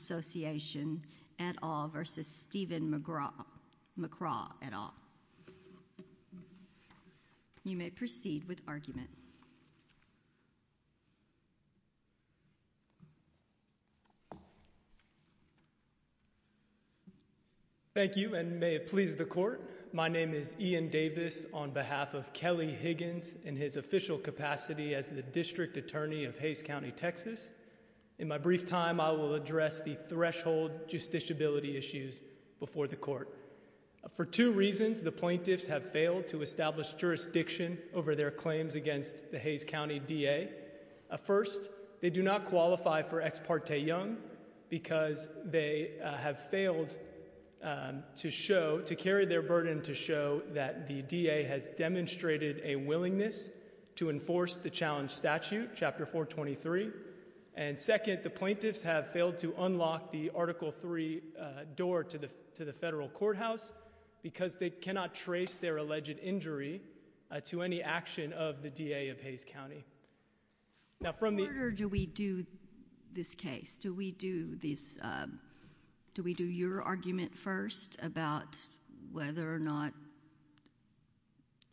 Association, et al. v. Stephen McCraw, et al. You may proceed with argument. Thank you, and may it please the Court, my name is Ian Davis on behalf of Kelly Higgins in his official capacity as the District Attorney of Hays County, Texas. In my brief time, I will address the threshold justiciability issues before the Court. For two reasons, the plaintiffs have failed to establish jurisdiction over their claims against the Hays County D.A. First, they do not qualify for Ex Parte Young because they have failed to show, to carry their burden to show that the D.A. has demonstrated a willingness to enforce the challenge statute, Chapter 423. And second, the plaintiffs have failed to unlock the Article 3 door to the federal courthouse because they cannot trace their alleged injury to any action of the D.A. of Hays County. Now from the- In what order do we do this case? Do we do your argument first about whether or not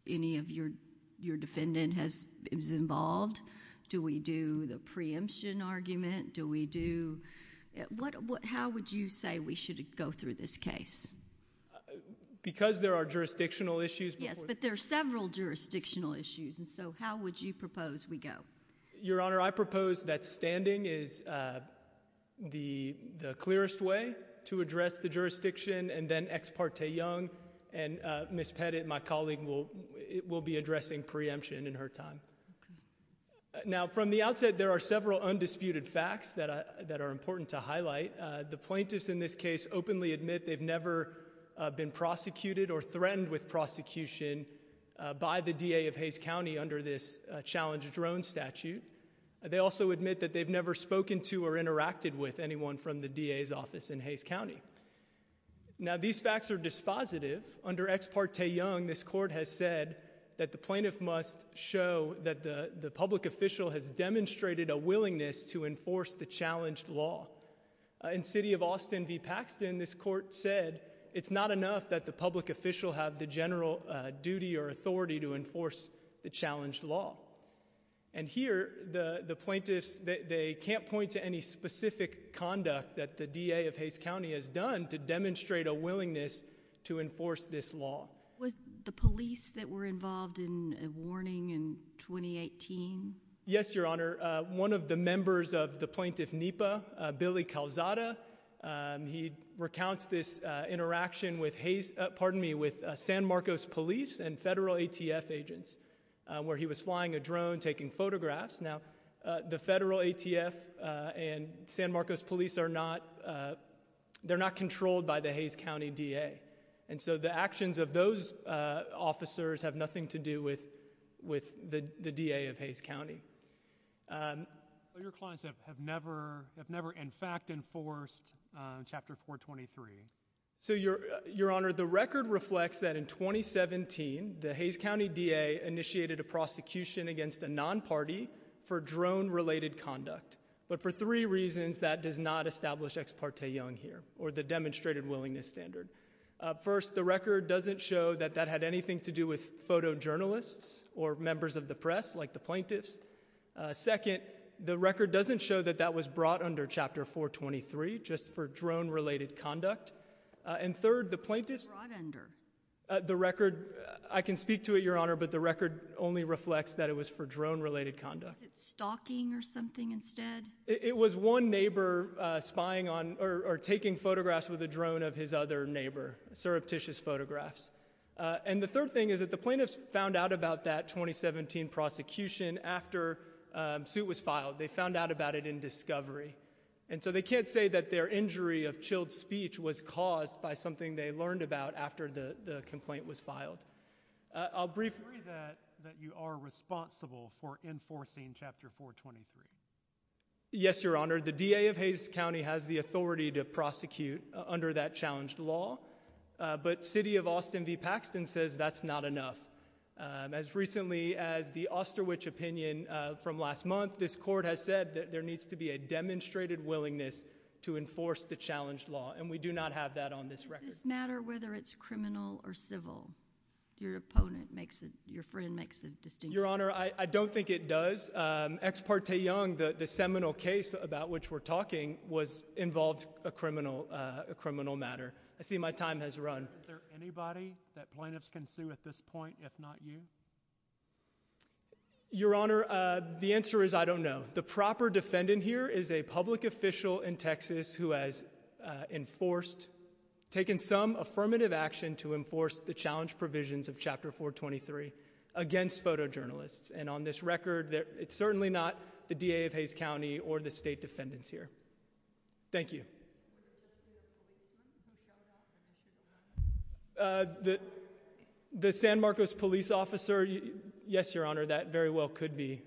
any of your defendant is involved? Do we do the preemption argument? How would you say we should go through this case? Because there are jurisdictional issues before- Yes, but there are several jurisdictional issues, and so how would you propose we go? Your Honor, I propose that standing is the clearest way to address the jurisdiction and then Ex Parte Young, and Ms. Pettit, my colleague, will be addressing preemption in her time. Now from the outset, there are several undisputed facts that are important to highlight. The plaintiffs in this case openly admit they've never been prosecuted or threatened with prosecution by the D.A. of Hays County under this challenge drone statute. They also admit that they've never spoken to or interacted with anyone from the D.A.'s office in Hays County. Now these facts are dispositive. Under Ex Parte Young, this court has said that the plaintiff must show that the public official has demonstrated a willingness to enforce the challenged law. In City of Austin v. Paxton, this court said it's not enough that the public official have the general duty or authority to enforce the challenged law. And here, the plaintiffs, they can't point to any specific conduct that the D.A. of Hays County has done to demonstrate a willingness to enforce this law. Was the police that were involved in a warning in 2018? Yes, Your Honor. One of the members of the plaintiff NEPA, Billy Calzada, he recounts this interaction with Hays, pardon me, with San Marcos Police and federal ATF agents where he was flying a drone taking photographs. Now the federal ATF and San Marcos Police are not, they're not controlled by the Hays County D.A. And so the actions of those officers have nothing to do with the D.A. of Hays County. So your clients have never in fact enforced Chapter 423? So Your Honor, the record reflects that in 2017, the Hays County D.A. initiated a prosecution against a non-party for drone-related conduct. But for three reasons, that does not establish Ex Parte Young here, or the demonstrated willingness standard. First, the record doesn't show that that had anything to do with photojournalists or members of the press, like the plaintiffs. Second, the record doesn't show that that was brought under Chapter 423, just for drone-related conduct. And third, the plaintiffs— Brought under? The record, I can speak to it, Your Honor, but the record only reflects that it was for drone-related conduct. Was it stalking or something instead? It was one neighbor spying on, or taking photographs with a drone of his other neighbor, surreptitious photographs. And the third thing is that the plaintiffs found out about that 2017 prosecution after suit was filed. They found out about it in discovery. And so they can't say that their injury of chilled speech was caused by something they learned about after the complaint was filed. I'll briefly— Do you agree that you are responsible for enforcing Chapter 423? Yes, Your Honor. The DA of Hays County has the authority to prosecute under that challenged law. But City of Austin v. Paxton says that's not enough. As recently as the Osterwich opinion from last month, this court has said that there needs to be a demonstrated willingness to enforce the challenged law. And we do not have that on this record. Does this matter whether it's criminal or civil? Your friend makes a distinction. Your Honor, I don't think it does. Ex parte Young, the seminal case about which we're talking, involved a criminal matter. I see my time has run. Is there anybody that plaintiffs can sue at this point, if not you? Your Honor, the answer is I don't know. The proper defendant here is a public official in Texas who has enforced— taken some affirmative action to enforce the challenged provisions of Chapter 423 against photojournalists. And on this record, it's certainly not the DA of Hays County or the state defendants here. Thank you. The San Marcos police officer, yes, Your Honor, that very well could be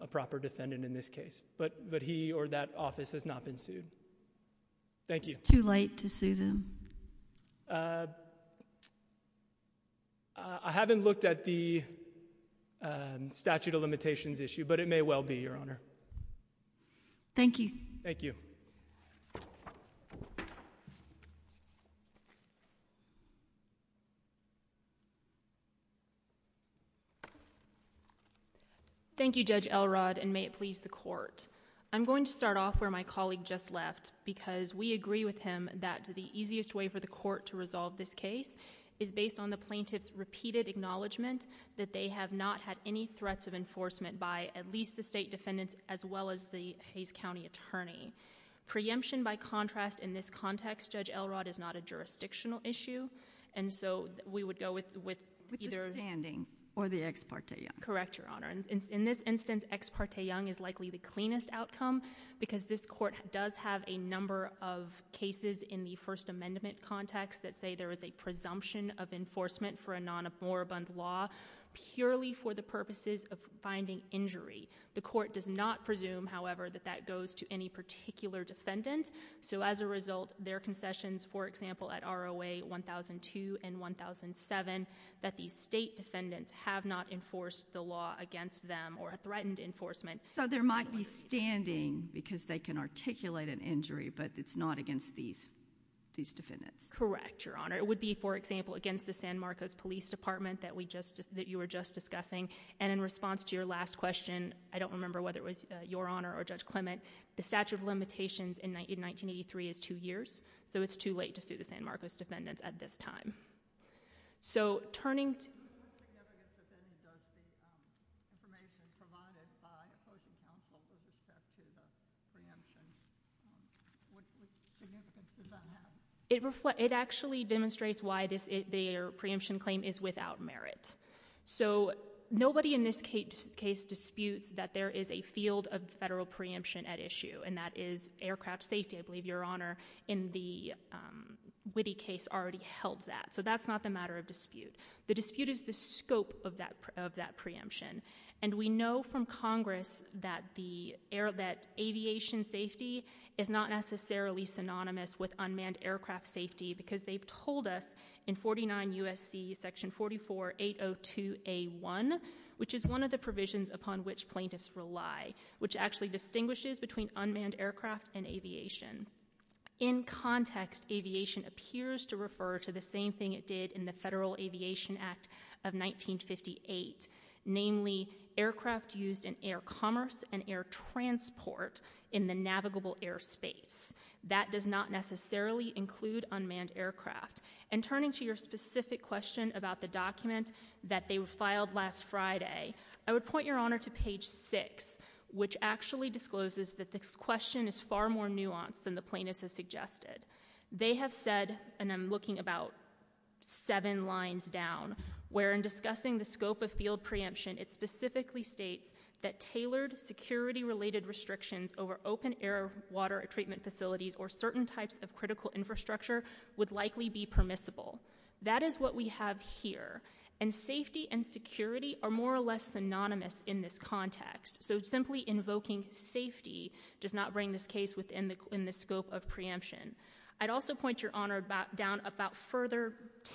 a proper defendant in this case. But he or that office has not been sued. Thank you. It's too late to sue them. I haven't looked at the statute of limitations issue, but it may well be, Your Honor. Thank you. Thank you. Thank you, Judge Elrod, and may it please the court. I'm going to start off where my colleague just left, because we agree with him that the easiest way for the court to resolve this case is based on the plaintiff's repeated acknowledgement that they have not had any threats of enforcement by at least the state defendants as well as the Hays County attorney. Preemption, by contrast, in this context, Judge Elrod, is not a jurisdictional issue. And so we would go with either— With the standing or the ex parte young. Correct, Your Honor. And in this instance, ex parte young is likely the cleanest outcome, because this court does have a number of cases in the First Amendment context that say there is a presumption of enforcement for a non-aborabund law purely for the purposes of finding injury. The court does not presume, however, that that goes to any particular defendant. So as a result, their concessions, for example, at ROA 1002 and 1007, that these state defendants have not enforced the law against them or threatened enforcement— So there might be standing, because they can articulate an injury, but it's not against these defendants. Correct, Your Honor. It would be, for example, against the San Marcos Police Department that you were just discussing. And in response to your last question, I don't remember whether it was Your Honor or Judge Clement, the statute of limitations in 1983 is two years, so it's too late to sue the San Marcos defendants at this time. So turning to— What significance does the information provided by opposing counsel with respect to the preemption, what significance does that have? It actually demonstrates why their preemption claim is without merit. So nobody in this case disputes that there is a field of federal preemption at issue, and that is aircraft safety. I believe Your Honor, in the Witte case, already held that. So that's not the matter of dispute. The dispute is the scope of that preemption. And we know from Congress that aviation safety is not necessarily synonymous with unmanned aircraft safety because they've told us in 49 U.S.C. section 44-802A1, which is one of the provisions upon which plaintiffs rely, which actually distinguishes between unmanned aircraft and aviation. In context, aviation appears to refer to the same thing it did in the Federal Aviation Act of 1958, namely aircraft used in air commerce and air transport in the navigable airspace. That does not necessarily include unmanned aircraft. And turning to your specific question about the document that they filed last Friday, I would point Your Honor to page 6, which actually discloses that this question is far more nuanced than the plaintiffs have suggested. They have said—and I'm looking about seven lines down— where in discussing the scope of field preemption, it specifically states that tailored security-related restrictions over open-air water treatment facilities or certain types of critical infrastructure would likely be permissible. That is what we have here. And safety and security are more or less synonymous in this context. So simply invoking safety does not bring this case within the scope of preemption. I'd also point Your Honor down about further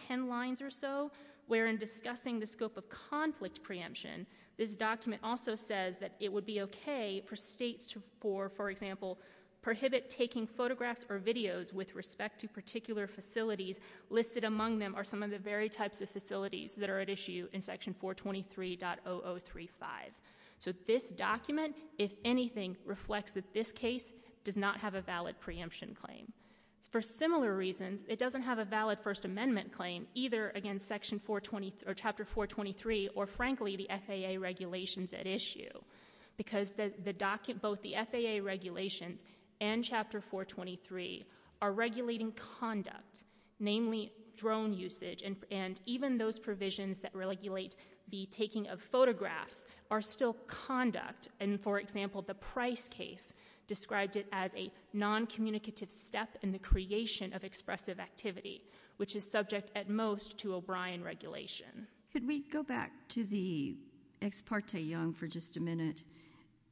ten lines or so, where in discussing the scope of conflict preemption, this document also says that it would be okay for states to, for example, prohibit taking photographs or videos with respect to particular facilities. Listed among them are some of the very types of facilities that are at issue in Section 423.0035. So this document, if anything, reflects that this case does not have a valid preemption claim. For similar reasons, it doesn't have a valid First Amendment claim, either against Chapter 423.00 or, frankly, the FAA regulations at issue. Because both the FAA regulations and Chapter 423.00 are regulating conduct, namely drone usage, and even those provisions that regulate the taking of photographs are still conduct. And, for example, the Price case described it as a noncommunicative step in the creation of expressive activity, which is subject at most to O'Brien regulation. Could we go back to the ex parte young for just a minute?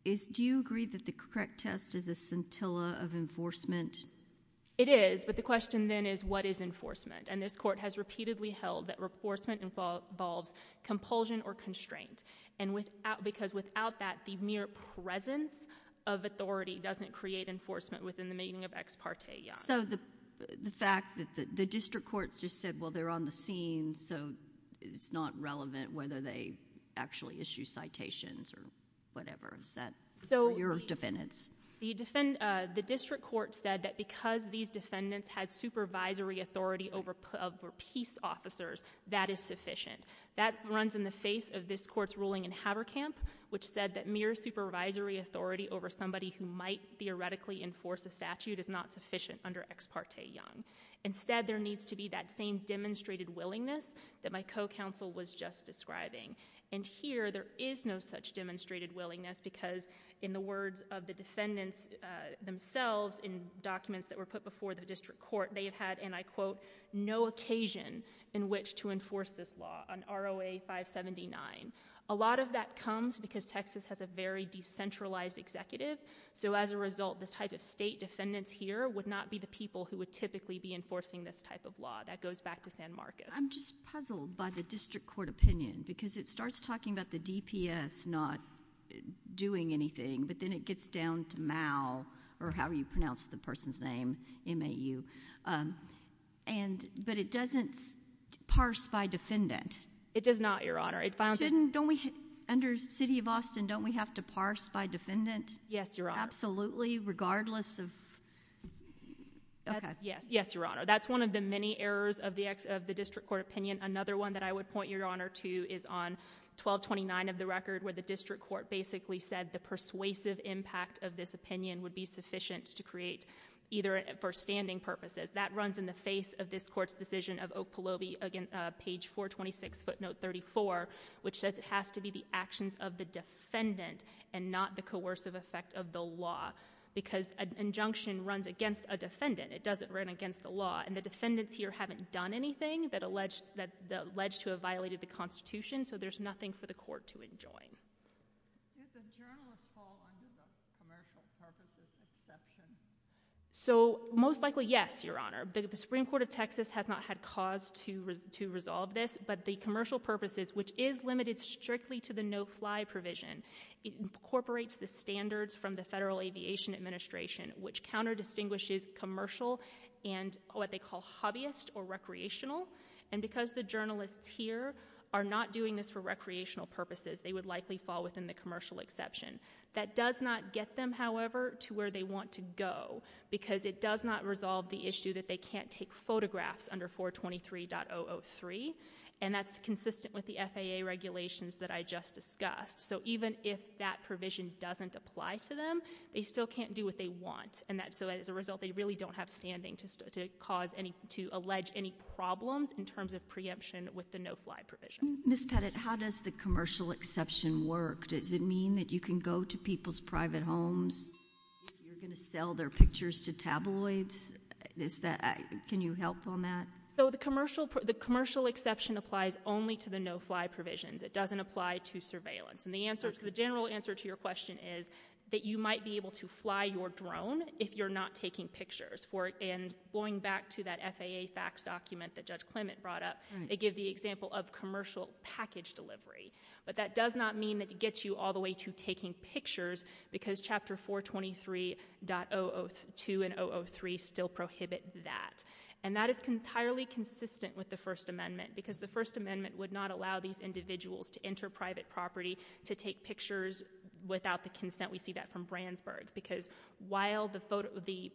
Do you agree that the correct test is a scintilla of enforcement? It is, but the question then is what is enforcement? And this Court has repeatedly held that enforcement involves compulsion or constraint. Because without that, the mere presence of authority doesn't create enforcement within the meaning of ex parte young. So the fact that the district courts just said, well, they're on the scene, so it's not relevant whether they actually issue citations or whatever. Is that for your defendants? The district court said that because these defendants had supervisory authority over peace officers, that is sufficient. That runs in the face of this Court's ruling in Haberkamp, which said that mere supervisory authority over somebody who might theoretically enforce a statute is not sufficient under ex parte young. Instead, there needs to be that same demonstrated willingness that my co-counsel was just describing. And here, there is no such demonstrated willingness, because in the words of the defendants themselves in documents that were put before the district court, they have had, and I quote, no occasion in which to enforce this law, an ROA 579. A lot of that comes because Texas has a very decentralized executive, so as a result, the type of state defendants here would not be the people who would typically be enforcing this type of law. That goes back to San Marcos. I'm just puzzled by the district court opinion, because it starts talking about the DPS not doing anything, but then it gets down to MAU, or however you pronounce the person's name, M-A-U. But it doesn't parse by defendant. It does not, Your Honor. Under the city of Austin, don't we have to parse by defendant? Yes, Your Honor. Absolutely, regardless of... Yes, Your Honor. That's one of the many errors of the district court opinion. Another one that I would point Your Honor to is on 1229 of the record, where the district court basically said the persuasive impact of this opinion would be sufficient to create, either for standing purposes. That runs in the face of this court's decision of Oak Pahloby, page 426, footnote 34, which says it has to be the actions of the defendant and not the coercive effect of the law, because an injunction runs against a defendant. It doesn't run against the law. And the defendants here haven't done anything that alleged to have violated the Constitution, so there's nothing for the court to enjoin. Did the journalists fall under the commercial purposes exception? Most likely, yes, Your Honor. The Supreme Court of Texas has not had cause to resolve this, but the commercial purposes, which is limited strictly to the no-fly provision, incorporates the standards from the Federal Aviation Administration, which counter-distinguishes commercial and what they call hobbyist or recreational. And because the journalists here are not doing this for recreational purposes, they would likely fall within the commercial exception. That does not get them, however, to where they want to go, because it does not resolve the issue that they can't take photographs under 423.003, and that's consistent with the FAA regulations that I just discussed. So even if that provision doesn't apply to them, they still can't do what they want. So as a result, they really don't have standing to allege any problems in terms of preemption with the no-fly provision. Ms. Pettit, how does the commercial exception work? Does it mean that you can go to people's private homes, you're going to sell their pictures to tabloids? Can you help on that? The commercial exception applies only to the no-fly provisions. It doesn't apply to surveillance. And the general answer to your question is that you might be able to fly your drone if you're not taking pictures. And going back to that FAA facts document that Judge Clement brought up, they give the example of commercial package delivery. But that does not mean that it gets you all the way to taking pictures, because Chapter 423.002 and 003 still prohibit that. And that is entirely consistent with the First Amendment, because the First Amendment would not allow these individuals to enter private property to take pictures without the consent. We see that from Brandsburg. Because while the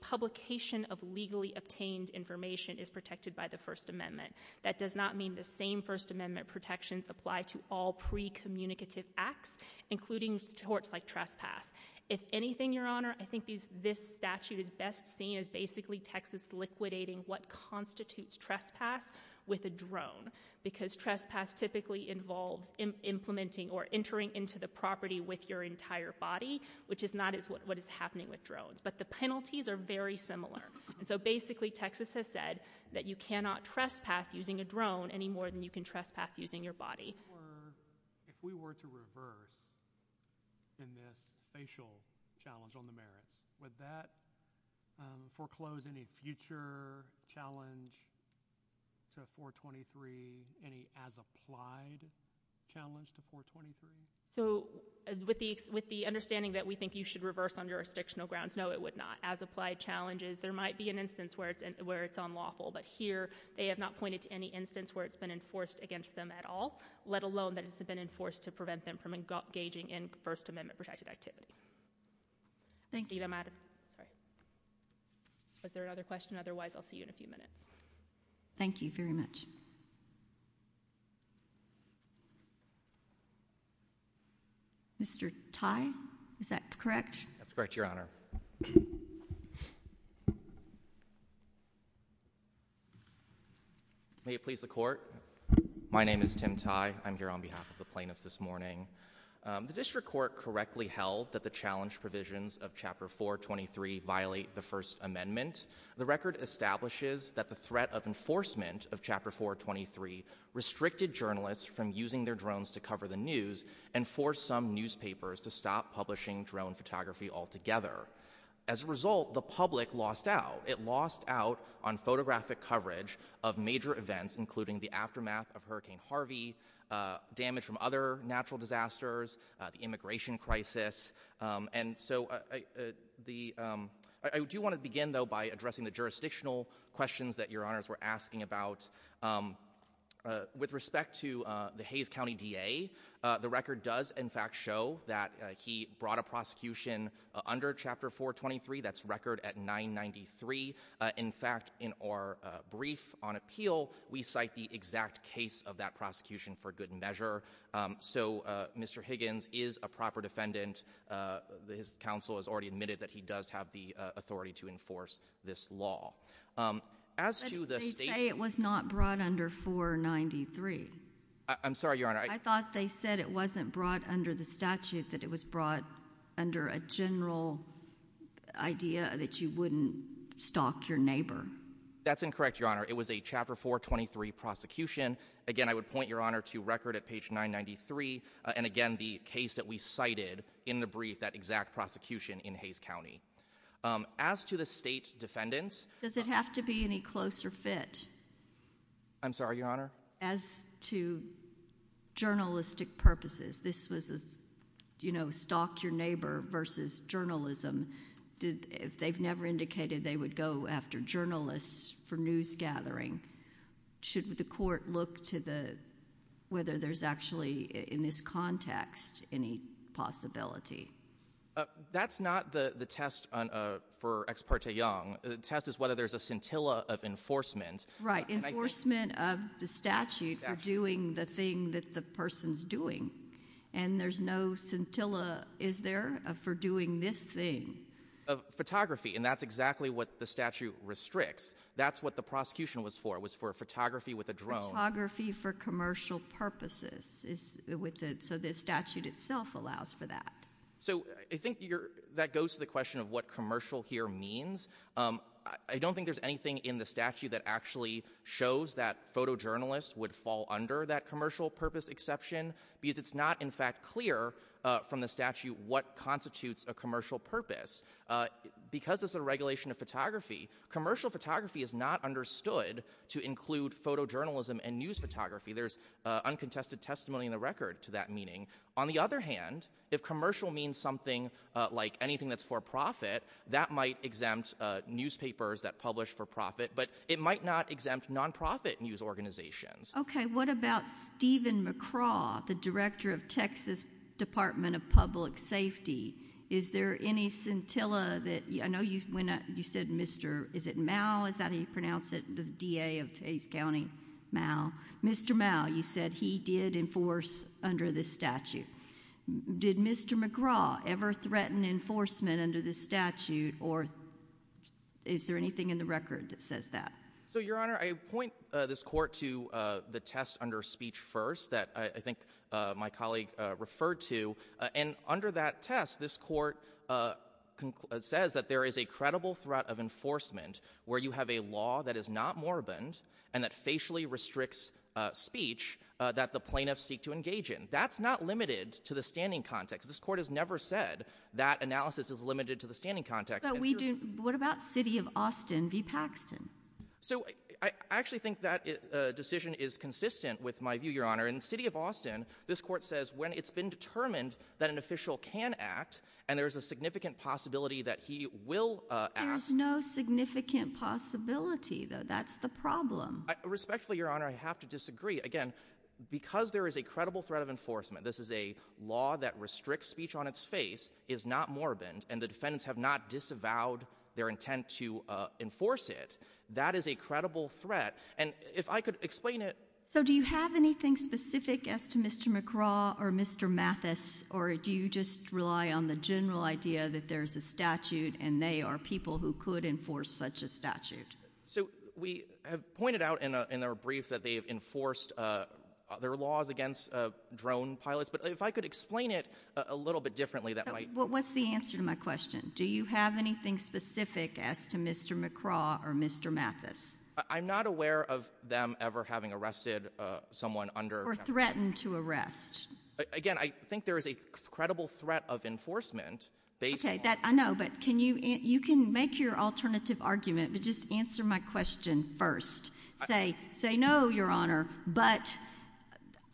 publication of legally obtained information is protected by the First Amendment, that does not mean the same First Amendment protections apply to all pre-communicative acts, including torts like trespass. If anything, Your Honor, I think this statute is best seen as basically Texas liquidating what constitutes trespass with a drone. Because trespass typically involves implementing or entering into the property with your entire body, which is not what is happening with drones. But the penalties are very similar. So basically Texas has said that you cannot trespass using a drone any more than you can trespass using your body. If we were to reverse in this facial challenge on the merits, would that foreclose any future challenge to 423, any as-applied challenge to 423? So with the understanding that we think you should reverse on jurisdictional grounds, no, it would not. As-applied challenges, there might be an instance where it's unlawful. But here they have not pointed to any instance where it's been enforced against them at all, let alone that it's been enforced to prevent them from engaging in First Amendment-protected activity. Thank you. Was there another question? Otherwise, I'll see you in a few minutes. Thank you very much. Mr. Tai, is that correct? That's correct, Your Honor. May it please the Court? My name is Tim Tai. I'm here on behalf of the plaintiffs this morning. The district court correctly held that the challenge provisions of Chapter 423 violate the First Amendment. The record establishes that the threat of enforcement of Chapter 423 restricted journalists from using their drones to cover the news and forced some newspapers to stop publishing drone photography altogether. As a result, the public lost out. It lost out on photographic coverage of major events, including the aftermath of Hurricane Harvey, damage from other natural disasters, the immigration crisis. I do want to begin, though, by addressing the jurisdictional questions that Your Honors were asking about. With respect to the Hayes County DA, the record does, in fact, show that he brought a prosecution under Chapter 423. That's record at 993. In fact, in our brief on appeal, we cite the exact case of that prosecution for good measure. So Mr. Higgins is a proper defendant. His counsel has already admitted that he does have the authority to enforce this law. As to the state... But they say it was not brought under 493. I'm sorry, Your Honor. I thought they said it wasn't brought under the statute, that it was brought under a general idea that you wouldn't stalk your neighbor. That's incorrect, Your Honor. It was a Chapter 423 prosecution. Again, I would point Your Honor to record at page 993. And again, the case that we cited in the brief, that exact prosecution in Hayes County. As to the state defendants... Does it have to be any closer fit? I'm sorry, Your Honor? As to journalistic purposes. This was a, you know, stalk your neighbor versus journalism. They've never indicated they would go after journalists for news gathering. Should the court look to the... whether there's actually, in this context, any possibility? That's not the test for Ex parte Young. The test is whether there's a scintilla of enforcement. Right, enforcement of the statute for doing the thing that the person's doing. And there's no scintilla, is there, for doing this thing? Photography, and that's exactly what the statute restricts. That's what the prosecution was for. It was for photography with a drone. Photography for commercial purposes. So the statute itself allows for that. So I think that goes to the question of what commercial here means. I don't think there's anything in the statute that actually shows that photojournalists would fall under that commercial purpose exception, because it's not, in fact, clear from the statute what constitutes a commercial purpose. Because it's a regulation of photography, commercial photography is not understood to include photojournalism and news photography. There's uncontested testimony in the record to that meaning. On the other hand, if commercial means something like anything that's for profit, that might exempt newspapers that publish for profit, but it might not exempt non-profit news organizations. Okay, what about Stephen McCraw, the director of Texas Department of Public Safety? Is there any scintilla that... I know you said Mr... Is it Mao? Is that how you pronounce it? The D.A. of Hayes County, Mao. Mr. Mao, you said he did enforce under this statute. Did Mr. McCraw ever threaten enforcement under this statute, or is there anything in the record that says that? So, Your Honor, I point this court to the test under speech first, that I think my colleague referred to, and under that test, this court says that there is a credible threat of enforcement where you have a law that is not morbid and that facially restricts speech that the plaintiffs seek to engage in. That's not limited to the standing context. This court has never said that analysis is limited to the standing context. What about City of Austin v. Paxton? So I actually think that decision is consistent with my view, Your Honor. In City of Austin, this court says when it's been determined that an official can act and there's a significant possibility that he will act... There's no significant possibility, though. That's the problem. Respectfully, Your Honor, I have to disagree. Again, because there is a credible threat of enforcement, this is a law that restricts speech on its face, is not morbid, and the defendants have not disavowed their intent to enforce it, that is a credible threat. And if I could explain it... So do you have anything specific as to Mr. McCraw or Mr. Mathis, or do you just rely on the general idea that there's a statute and they are people who could enforce such a statute? So we have pointed out in our brief that they have enforced their laws against drone pilots, but if I could explain it a little bit differently... So what's the answer to my question? Do you have anything specific as to Mr. McCraw or Mr. Mathis? I'm not aware of them ever having arrested someone under... Or threatened to arrest. Again, I think there is a credible threat of enforcement based on... Okay, I know, but can you... You can make your alternative argument, but just answer my question first. Say, no, Your Honor, but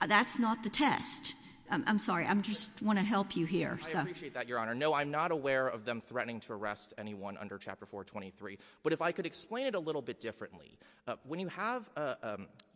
that's not the test. I'm sorry, I just want to help you here. I appreciate that, Your Honor. No, I'm not aware of them threatening to arrest anyone under Chapter 423, but if I could explain it a little bit differently, when you have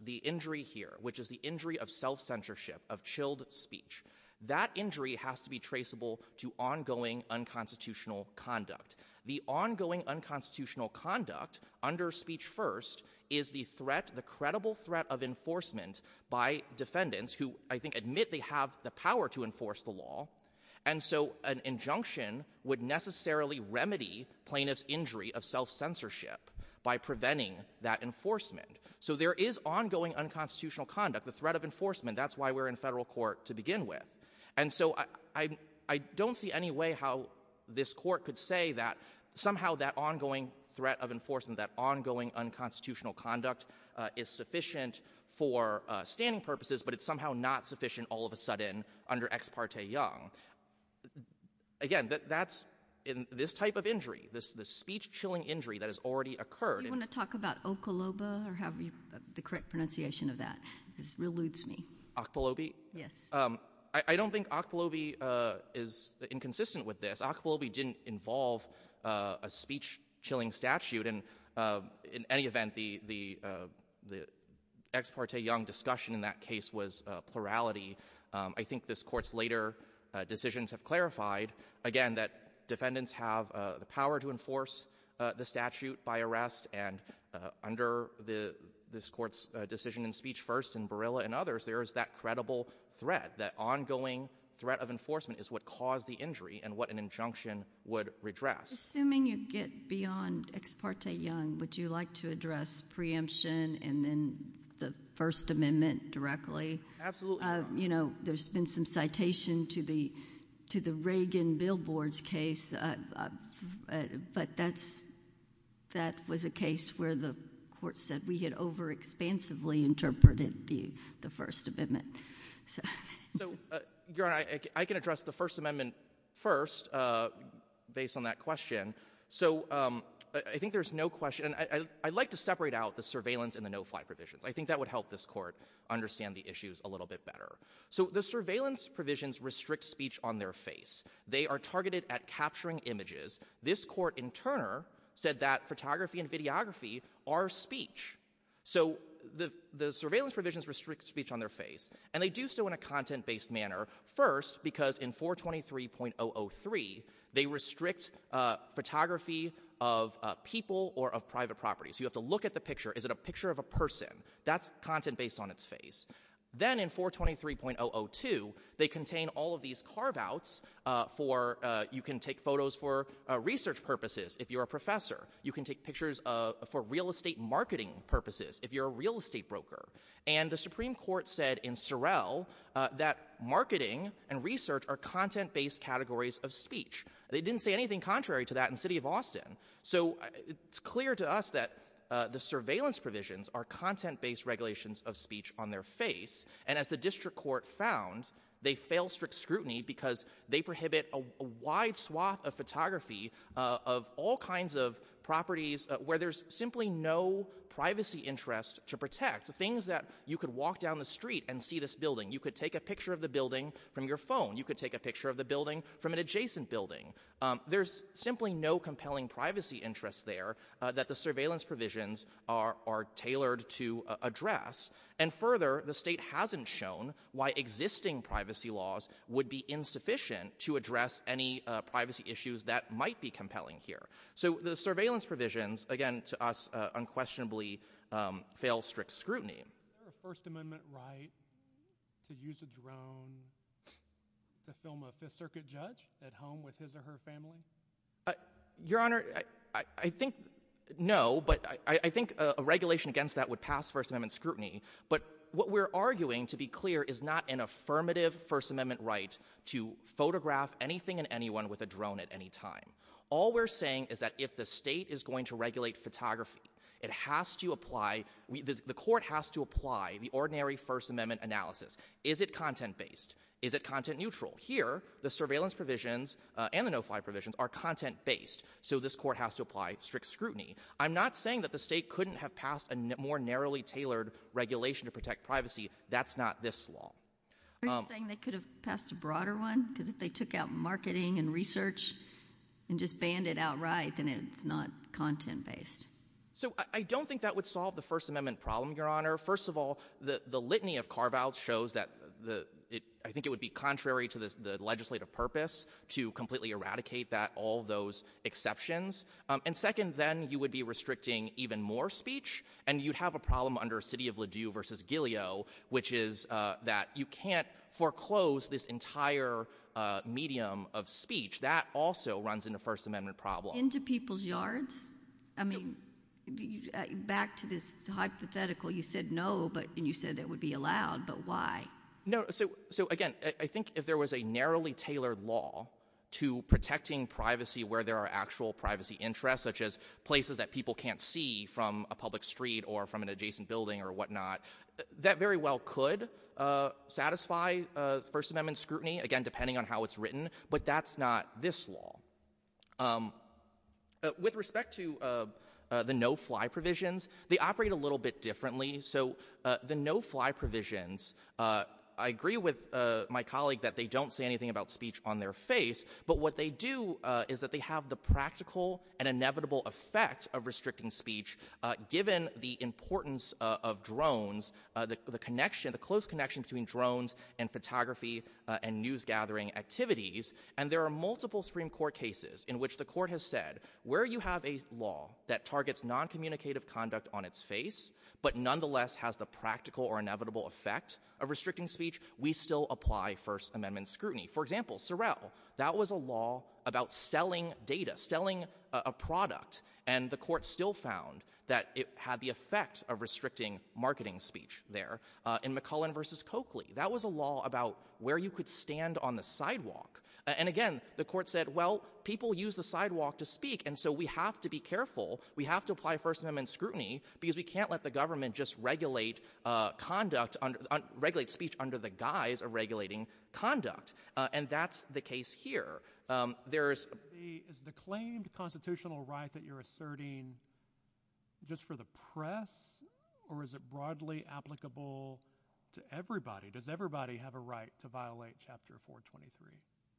the injury here, which is the injury of self-censorship, of chilled speech, that injury has to be traceable to ongoing unconstitutional conduct. The ongoing unconstitutional conduct under Speech First is the threat, the credible threat of enforcement by defendants who, I think, admit they have the power to enforce the law, and so an injunction would necessarily remedy plaintiff's injury of self-censorship by preventing that enforcement. So there is ongoing unconstitutional conduct, the threat of enforcement, that's why we're in federal court to begin with. And so I don't see any way how this court could say that somehow that ongoing threat of enforcement, that ongoing unconstitutional conduct is sufficient for standing purposes, but it's somehow not sufficient all of a sudden under Ex parte Young. Again, that's... This speech-chilling injury that has already occurred... Do you want to talk about Okoloba, or have the correct pronunciation of that? This eludes me. Okolobi? Yes. I don't think Okolobi is inconsistent with this. Okolobi didn't involve a speech-chilling statute, and in any event, the Ex parte Young discussion in that case was plurality. I think this court's later decisions have clarified, again, that defendants have the power to enforce the statute by arrest, and under this court's decision in speech first in Barilla and others, there is that credible threat, that ongoing threat of enforcement is what caused the injury and what an injunction would redress. Assuming you get beyond Ex parte Young, would you like to address preemption and then the First Amendment directly? Absolutely not. You know, there's been some citation to the Reagan-Billboards case, but that was a case where the court said we had overexpansively interpreted the First Amendment. So, Your Honor, I can address the First Amendment first, based on that question. So, I think there's no question. I'd like to separate out the surveillance and the no-fly provisions. I think that would help this court understand the issues a little bit better. So, the surveillance provisions restrict speech on their face. They are targeted at capturing images. This court in Turner said that photography and videography are speech. So, the surveillance provisions restrict speech on their face, and they do so in a content-based manner. First, because in 423.003, they restrict photography of people or of private property. So, you have to look at the picture. Is it a picture of a person? That's content based on its face. Then, in 423.002, they contain all of these carve-outs for you can take photos for research purposes if you're a professor. You can take pictures for real estate marketing purposes if you're a real estate broker. And the Supreme Court said in Sorrell that marketing and research are content-based categories of speech. They didn't say anything contrary to that in the city of Austin. So, it's clear to us that the surveillance provisions are content-based regulations of speech on their face. And as the district court found, they fail strict scrutiny because they prohibit a wide swath of photography of all kinds of properties where there's simply no privacy interest to protect. Things that you could walk down the street and see this building. You could take a picture of the building from your phone. You could take a picture of the building from an adjacent building. There's simply no compelling privacy interest there that the surveillance provisions are tailored to address. And further, the state hasn't shown why existing privacy laws would be insufficient to address any privacy issues that might be compelling here. So, the surveillance provisions, again, to us, unquestionably fail strict scrutiny. Is there a First Amendment right to use a drone to film a Fifth Circuit judge at home with his or her family? Your Honor, I think, no, but I think a regulation against that would pass First Amendment scrutiny, but what we're arguing, to be clear, is not an affirmative First Amendment right to photograph anything and anyone with a drone at any time. All we're saying is that if the state is going to regulate photography, it has to apply, the court has to apply the ordinary First Amendment analysis. Is it content-based? Is it content-neutral? Here, the surveillance provisions and the no-fly provisions are content-based, so this court has to apply strict scrutiny. I'm not saying that the state couldn't have passed a more narrowly tailored regulation to protect privacy. That's not this law. Are you saying they could have passed a broader one? Because if they took out marketing and research and just banned it outright, then it's not content-based. So, I don't think that would solve the First Amendment problem, Your Honor. First of all, the litany of carve-outs shows that, I think it would be contrary to the legislative purpose to completely eradicate all those exceptions. And second, then, you would be restricting even more speech, and you'd have a problem under City of Ladue v. Gileo, which is that you can't foreclose this entire medium of speech. That also runs in the First Amendment problem. Into people's yards? I mean, back to this hypothetical, you said no, and you said it would be allowed, but why? No, so again, I think if there was a narrowly tailored law to protecting privacy where there are actual privacy interests, such as places that people can't see from a public street or from an adjacent building or whatnot, that very well could satisfy First Amendment scrutiny, again, depending on how it's written, but that's not this law. With respect to the no-fly provisions, they operate a little bit differently. The no-fly provisions, I agree with my colleague that they don't say anything about speech on their face, but what they do is that they have the practical and inevitable effect of restricting speech, given the importance of drones, the close connection between drones and photography and news-gathering activities, and there are multiple Supreme Court cases in which the Court has said, where you have a law that targets non-communicative conduct on its face, but nonetheless has the practical or inevitable effect of restricting speech, we still apply First Amendment scrutiny. For example, Sorrell, that was a law about selling data, selling a product, and the Court still found that it had the effect of restricting marketing speech there. In McCullen v. Coakley, that was a law about where you could stand on the sidewalk. And again, the Court said, well, people use the sidewalk to speak, and so we have to be able to apply First Amendment scrutiny, because we can't let the government just regulate speech under the guise of regulating conduct, and that's the case here. Is the claimed constitutional right that you're asserting just for the press, or is it broadly applicable to everybody? Does everybody have a right to violate Chapter 423?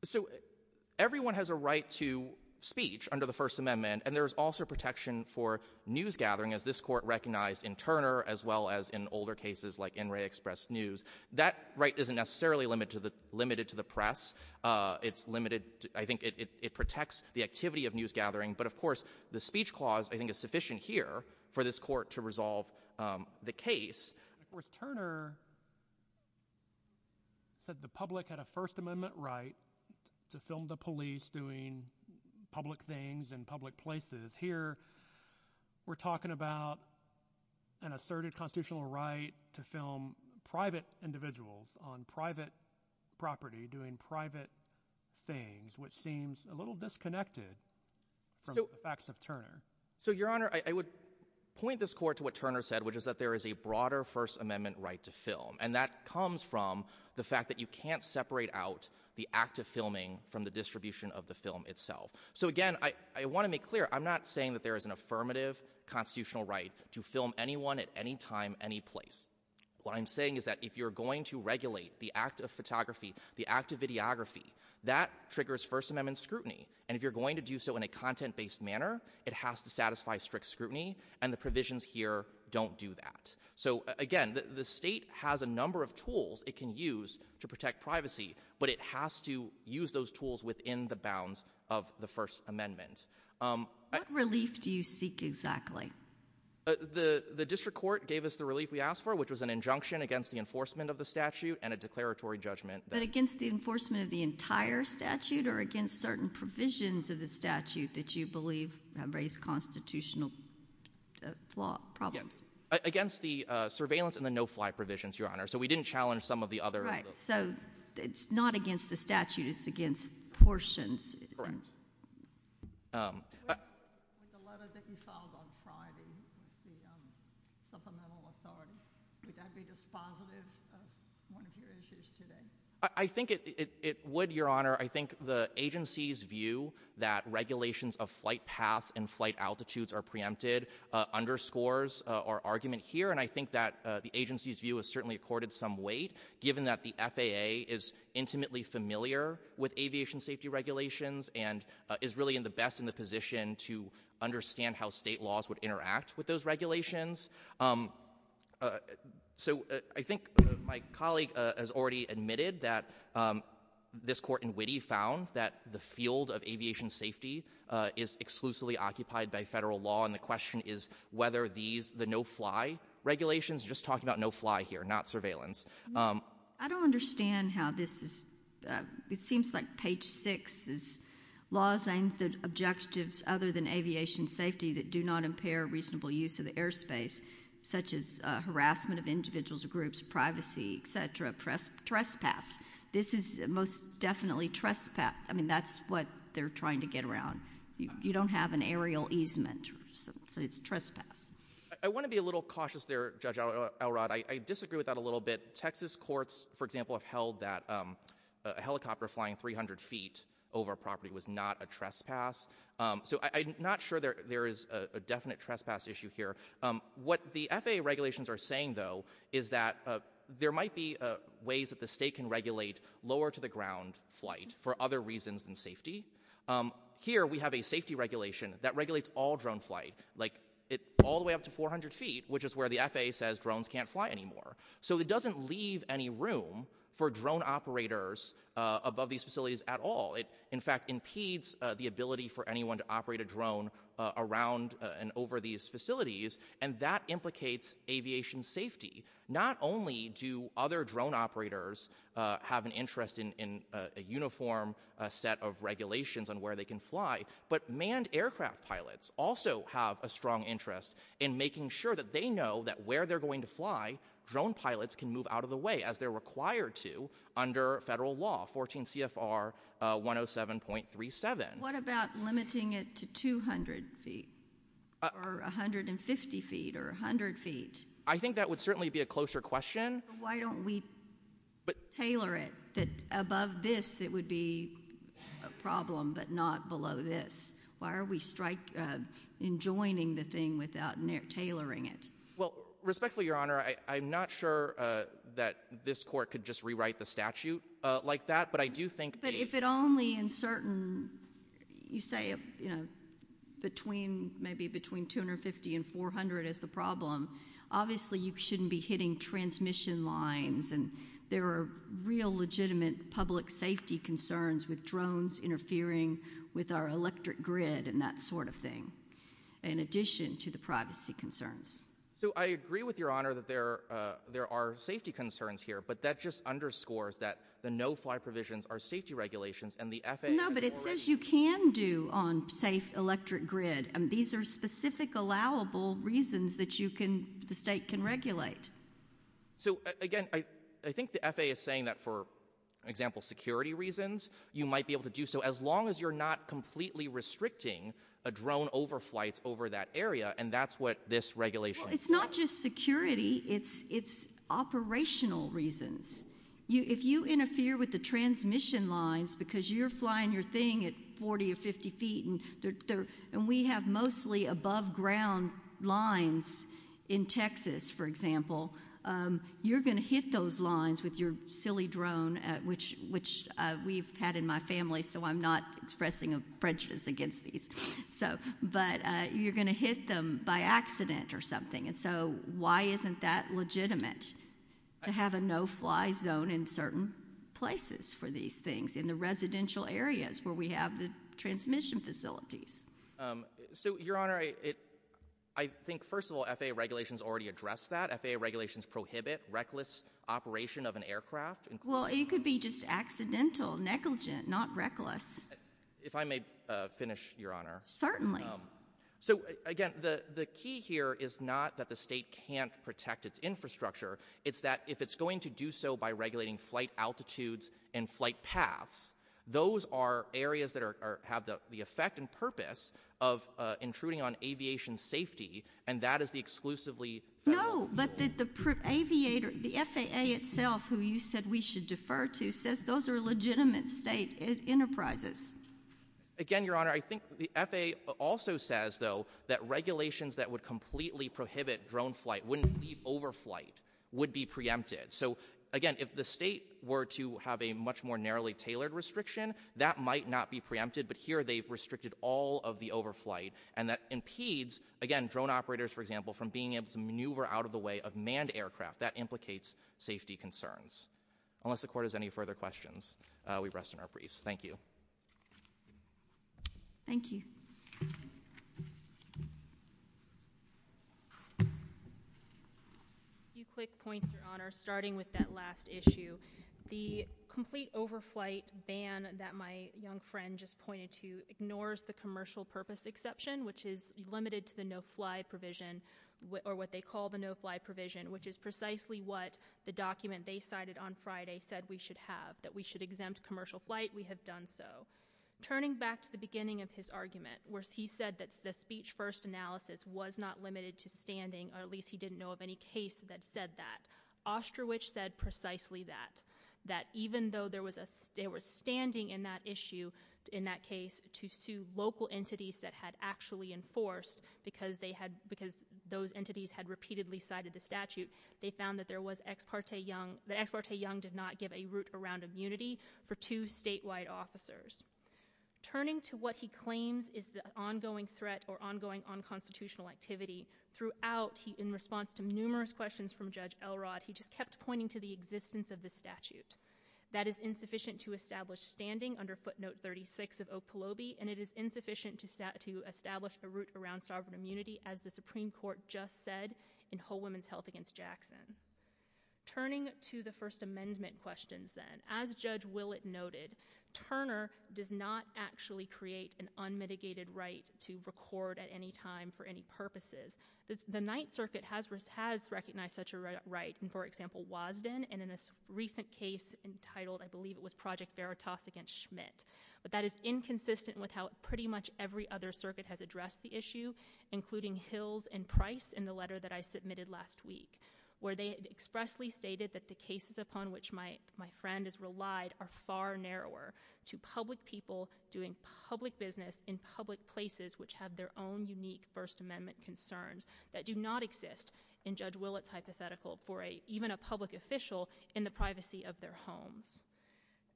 So, everyone has a right to speech under the First Amendment, and there's also protection for newsgathering, as this Court recognized in Turner, as well as in older cases like NRA Express News. That right isn't necessarily limited to the press. It's limited, I think it protects the activity of newsgathering, but of course the speech clause, I think, is sufficient here for this Court to resolve the case. Turner said the public had a First Amendment right to film the police doing public things in public places. Here, we're talking about an asserted constitutional right to film private individuals on private property doing private things, which seems a little disconnected from the facts of Turner. So, Your Honor, I would point this Court to what Turner said, which is that there is a broader First Amendment right to film, and that comes from the fact that you can't separate out the act of filming from the distribution of the film itself. So, again, I want to make clear, I'm not saying that there is an affirmative constitutional right to film anyone at any time, any place. What I'm saying is that if you're going to regulate the act of photography, the act of videography, that triggers First Amendment scrutiny, and if you're going to do so in a content-based manner, it has to satisfy strict scrutiny, and the provisions here don't do that. So, again, the State has a number of tools it can use to protect privacy, but it has to use those tools within the bounds of the First Amendment. What relief do you seek exactly? The District Court gave us the relief we asked for, which was an injunction against the enforcement of the statute and a declaratory judgment. But against the enforcement of the entire statute or against certain provisions of the statute that you believe raise constitutional problems? Against the surveillance and the no-fly provisions, Your Honor. So we didn't challenge some of the other... Right. So, it's not against the statute. It's against portions. Correct. With the letter that you filed on Friday, the supplemental authority, would that be dispositive of one of your issues today? I think it would, Your Honor. I think the agency's view that regulations of flight paths and flight altitudes are preempted underscores our argument here, and I think that the agency's view has certainly accorded some weight, given that the FAA is intimately familiar with aviation safety regulations and is really in the best position to understand how state laws would interact with those regulations. So, I think my colleague has already admitted that this Court in Witte found that the field of aviation safety is exclusively occupied by federal law, and the question is whether these, the no-fly regulations, you're just talking about no-fly here, not surveillance. I don't understand how this is... It seems like page 6 is laws aimed at objectives other than aviation safety that do not impair reasonable use of the airspace, such as harassment of individuals or groups, privacy, etc., trespass. This is most definitely trespass. I mean, that's what they're trying to get around. You don't have an aerial easement, so it's trespass. I want to be a little cautious there, Judge Elrod. I disagree with that a little bit. Texas courts, for example, have held that a helicopter flying 300 feet over a property was not a trespass. So I'm not sure there is a definite trespass issue here. What the FAA regulations are saying, though, is that there might be ways that the state can regulate lower-to-the-ground flight for other reasons than safety. Here, we have a safety regulation that regulates all drone flight all the way up to 400 feet, which is where the FAA says drones can't fly anymore. So it doesn't leave any room for drone operators above these facilities at all. It, in fact, impedes the ability for anyone to operate a drone around and over these facilities, and that implicates aviation safety. Not only do other drone operators have an interest in a uniform set of regulations on where they can fly, but manned aircraft pilots also have a strong interest in making sure that they know that where they're going to fly, drone pilots can move out of the way as they're required to under federal law, 14 CFR 107.37. What about limiting it to 200 feet or 150 feet or 100 feet? I think that would certainly be a closer question. Why don't we tailor it that above this it would be a problem, but not below this? Why are we enjoying the thing without tailoring it? Well, respectfully, Your Honor, I'm not sure that this Court could just rewrite the statute like that, but I do think... But if it only in certain, you say between maybe between 250 and 400 is the problem, obviously you shouldn't be hitting transmission lines, and there are real legitimate public safety concerns with drones interfering with our electric grid and that sort of thing, in addition to the privacy concerns. So I agree with Your Honor that there are safety concerns here, but that just underscores that the no-fly provisions are safety regulations and the FAA... No, but it says you can do on safe electric grid, and these are specific allowable reasons that you can, the state can regulate. So, again, I think the FAA is saying that, for example, security reasons, you might be able to do so as long as you're not completely restricting a drone overflight over that area, and that's what this regulation... Well, it's not just security, it's operational reasons. If you interfere with the transmission lines because you're flying your thing at 40 or 50 feet, and we have mostly above ground lines in Texas, for example, you're going to hit those lines with your silly drone, which we've had in my family, so I'm not expressing a prejudice against these, but you're going to hit them by accident or something, and so why isn't that legitimate to have a no-fly zone in certain places for these things, in the residential areas where we have the transmission facilities? So, Your Honor, I think, first of all, FAA regulations already address that. FAA regulations prohibit reckless operation of an aircraft. Well, it could be just accidental, negligent, not reckless. If I may finish, Your Honor. Certainly. So, again, the key here is not that the state can't protect its infrastructure, it's that if it's going to do so by regulating flight altitudes and flight paths, those are areas that have the effect and impact on aviation safety, and that is the exclusively— No, but the FAA itself, who you said we should defer to, says those are legitimate state enterprises. Again, Your Honor, I think the FAA also says, though, that regulations that would completely prohibit drone flight, wouldn't leave overflight, would be preempted. So, again, if the state were to have a much more narrowly tailored restriction, that might not be preempted, but here they've restricted all of the overflight, and that impedes, again, drone operators, for example, from being able to maneuver out of the way of manned aircraft. That implicates safety concerns. Unless the Court has any further questions, we rest in our briefs. Thank you. Thank you. A few quick points, Your Honor, starting with that last issue. The complete overflight ban that my young friend just pointed to ignores the commercial purpose exception, which is limited to the no-fly provision, or what they call the no-fly provision, which is precisely what the document they cited on Friday said we should have, that we should exempt commercial flight. We have done so. Turning back to the beginning of his argument, where he said that the speech-first analysis was not limited to standing, or at least he didn't know of any case that said that, Ostrowich said precisely that, that even though there was a, they were standing in that issue, in that case, to sue local entities that had actually enforced, because they had, because those entities had repeatedly cited the statute, they found that there was Ex parte Young, that Ex parte Young did not give a route around immunity for two statewide officers. Turning to what he claims is the ongoing threat, or ongoing unconstitutional activity, throughout he, in response to numerous questions from Judge Elrod, he just kept pointing to the fact that it is insufficient to establish standing under footnote 36 of Okolobe, and it is insufficient to establish a route around sovereign immunity, as the Supreme Court just said in Whole Women's Health against Jackson. Turning to the First Amendment questions then, as Judge Willett noted, Turner does not actually create an unmitigated right to record at any time for any purposes. The Ninth Circuit has recognized such a right, for example in a recent case entitled, I believe it was Project Veritas against Schmidt, but that is inconsistent with how pretty much every other circuit has addressed the issue, including Hills and Price in the letter that I submitted last week, where they expressly stated that the cases upon which my friend has relied are far narrower to public people doing public business in public places which have their own unique First Amendment concerns that do not exist in Judge Willett's hypothetical for even a public official in the privacy of their homes.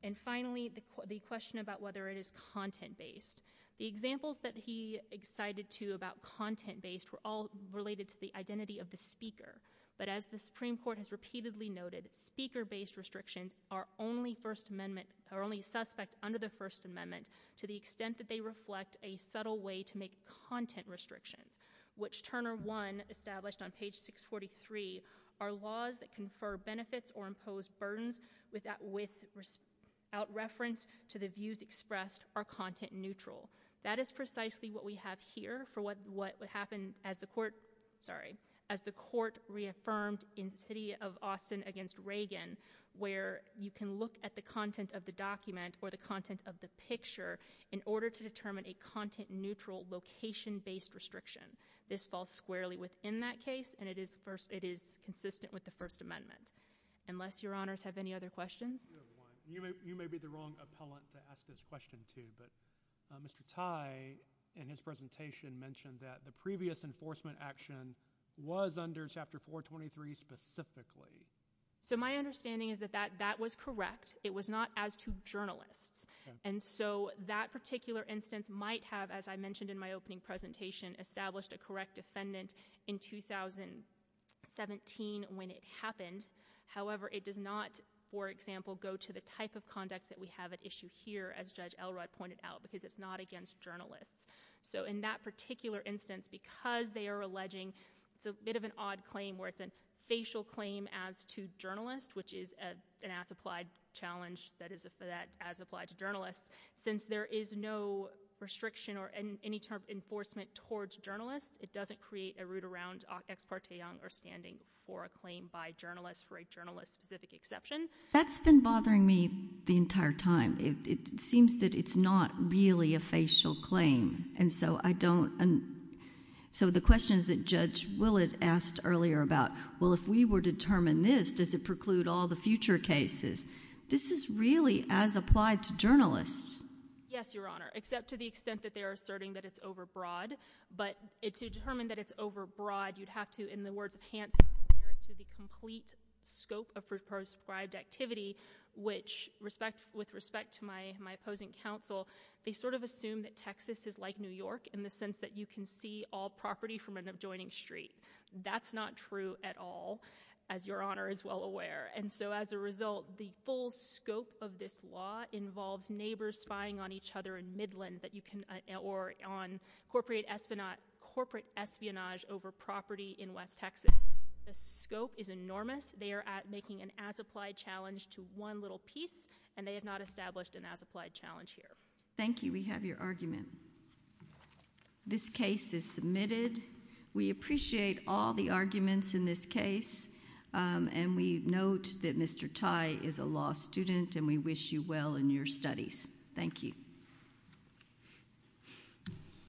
And finally, the question about whether it is content based. The examples that he excited to about content based were all related to the identity of the speaker, but as the Supreme Court has repeatedly noted, speaker based restrictions are only First Amendment are only suspect under the First Amendment to the extent that they reflect a subtle way to make content restrictions, which Turner 1 established on page 643 are laws that confer benefits or impose burdens without reference to the views expressed are content neutral. That is precisely what we have here for what would happen as the court, sorry, as the court reaffirmed in City of Austin against Reagan, where you can look at the content of the document or the content of the picture in order to determine a content neutral location based restriction. This falls squarely within that case and it is consistent with the First Amendment. Unless your honors have any other questions? You may be the wrong appellant to ask this question to, but Mr. Tye in his presentation mentioned that the previous enforcement action was under chapter 423 specifically. So my understanding is that that was correct. It was not as to journalists. And so that particular instance might have as I mentioned in my opening presentation established a correct defendant in 2017 when it happened. However, it does not, for example, go to the type of conduct that we have at issue here as Judge Elrod pointed out because it's not against journalists. So in that particular instance, because they are alleging, it's a bit of an odd claim where it's a facial claim as to journalists, which is an as applied challenge that is as applied to journalists. Since there is no restriction or any type of enforcement towards journalists, it doesn't create a route around ex parte or standing for a claim by journalists for a journalist specific exception. That's been bothering me the entire time. It seems that it's not really a facial claim. And so I don't, so the questions that Judge Willett asked earlier about, well if we were to determine this, does it preclude all the future cases? This is really as applied to journalists. Yes, Your Honor, except to the extent that they are asserting that it's over broad. But to determine that it's over broad, you'd have to, in the words of Hansen, compare it to the complete scope of prescribed activity, which with respect to my opposing counsel, they sort of assume that Texas is like New York in the sense that you can see all property from an adjoining street. That's not true at all, as Your Honor is well aware. And so as a result, the full scope of this law involves neighbors spying on each other in Midland or on corporate espionage over property in West Texas. The scope is enormous. They are making an as-applied challenge to one little piece and they have not established an as-applied challenge here. Thank you. We have your argument. This case is submitted. We appreciate all the arguments in this case. And we note that Mr. Tai is a law student and we wish you well in your studies. Thank you.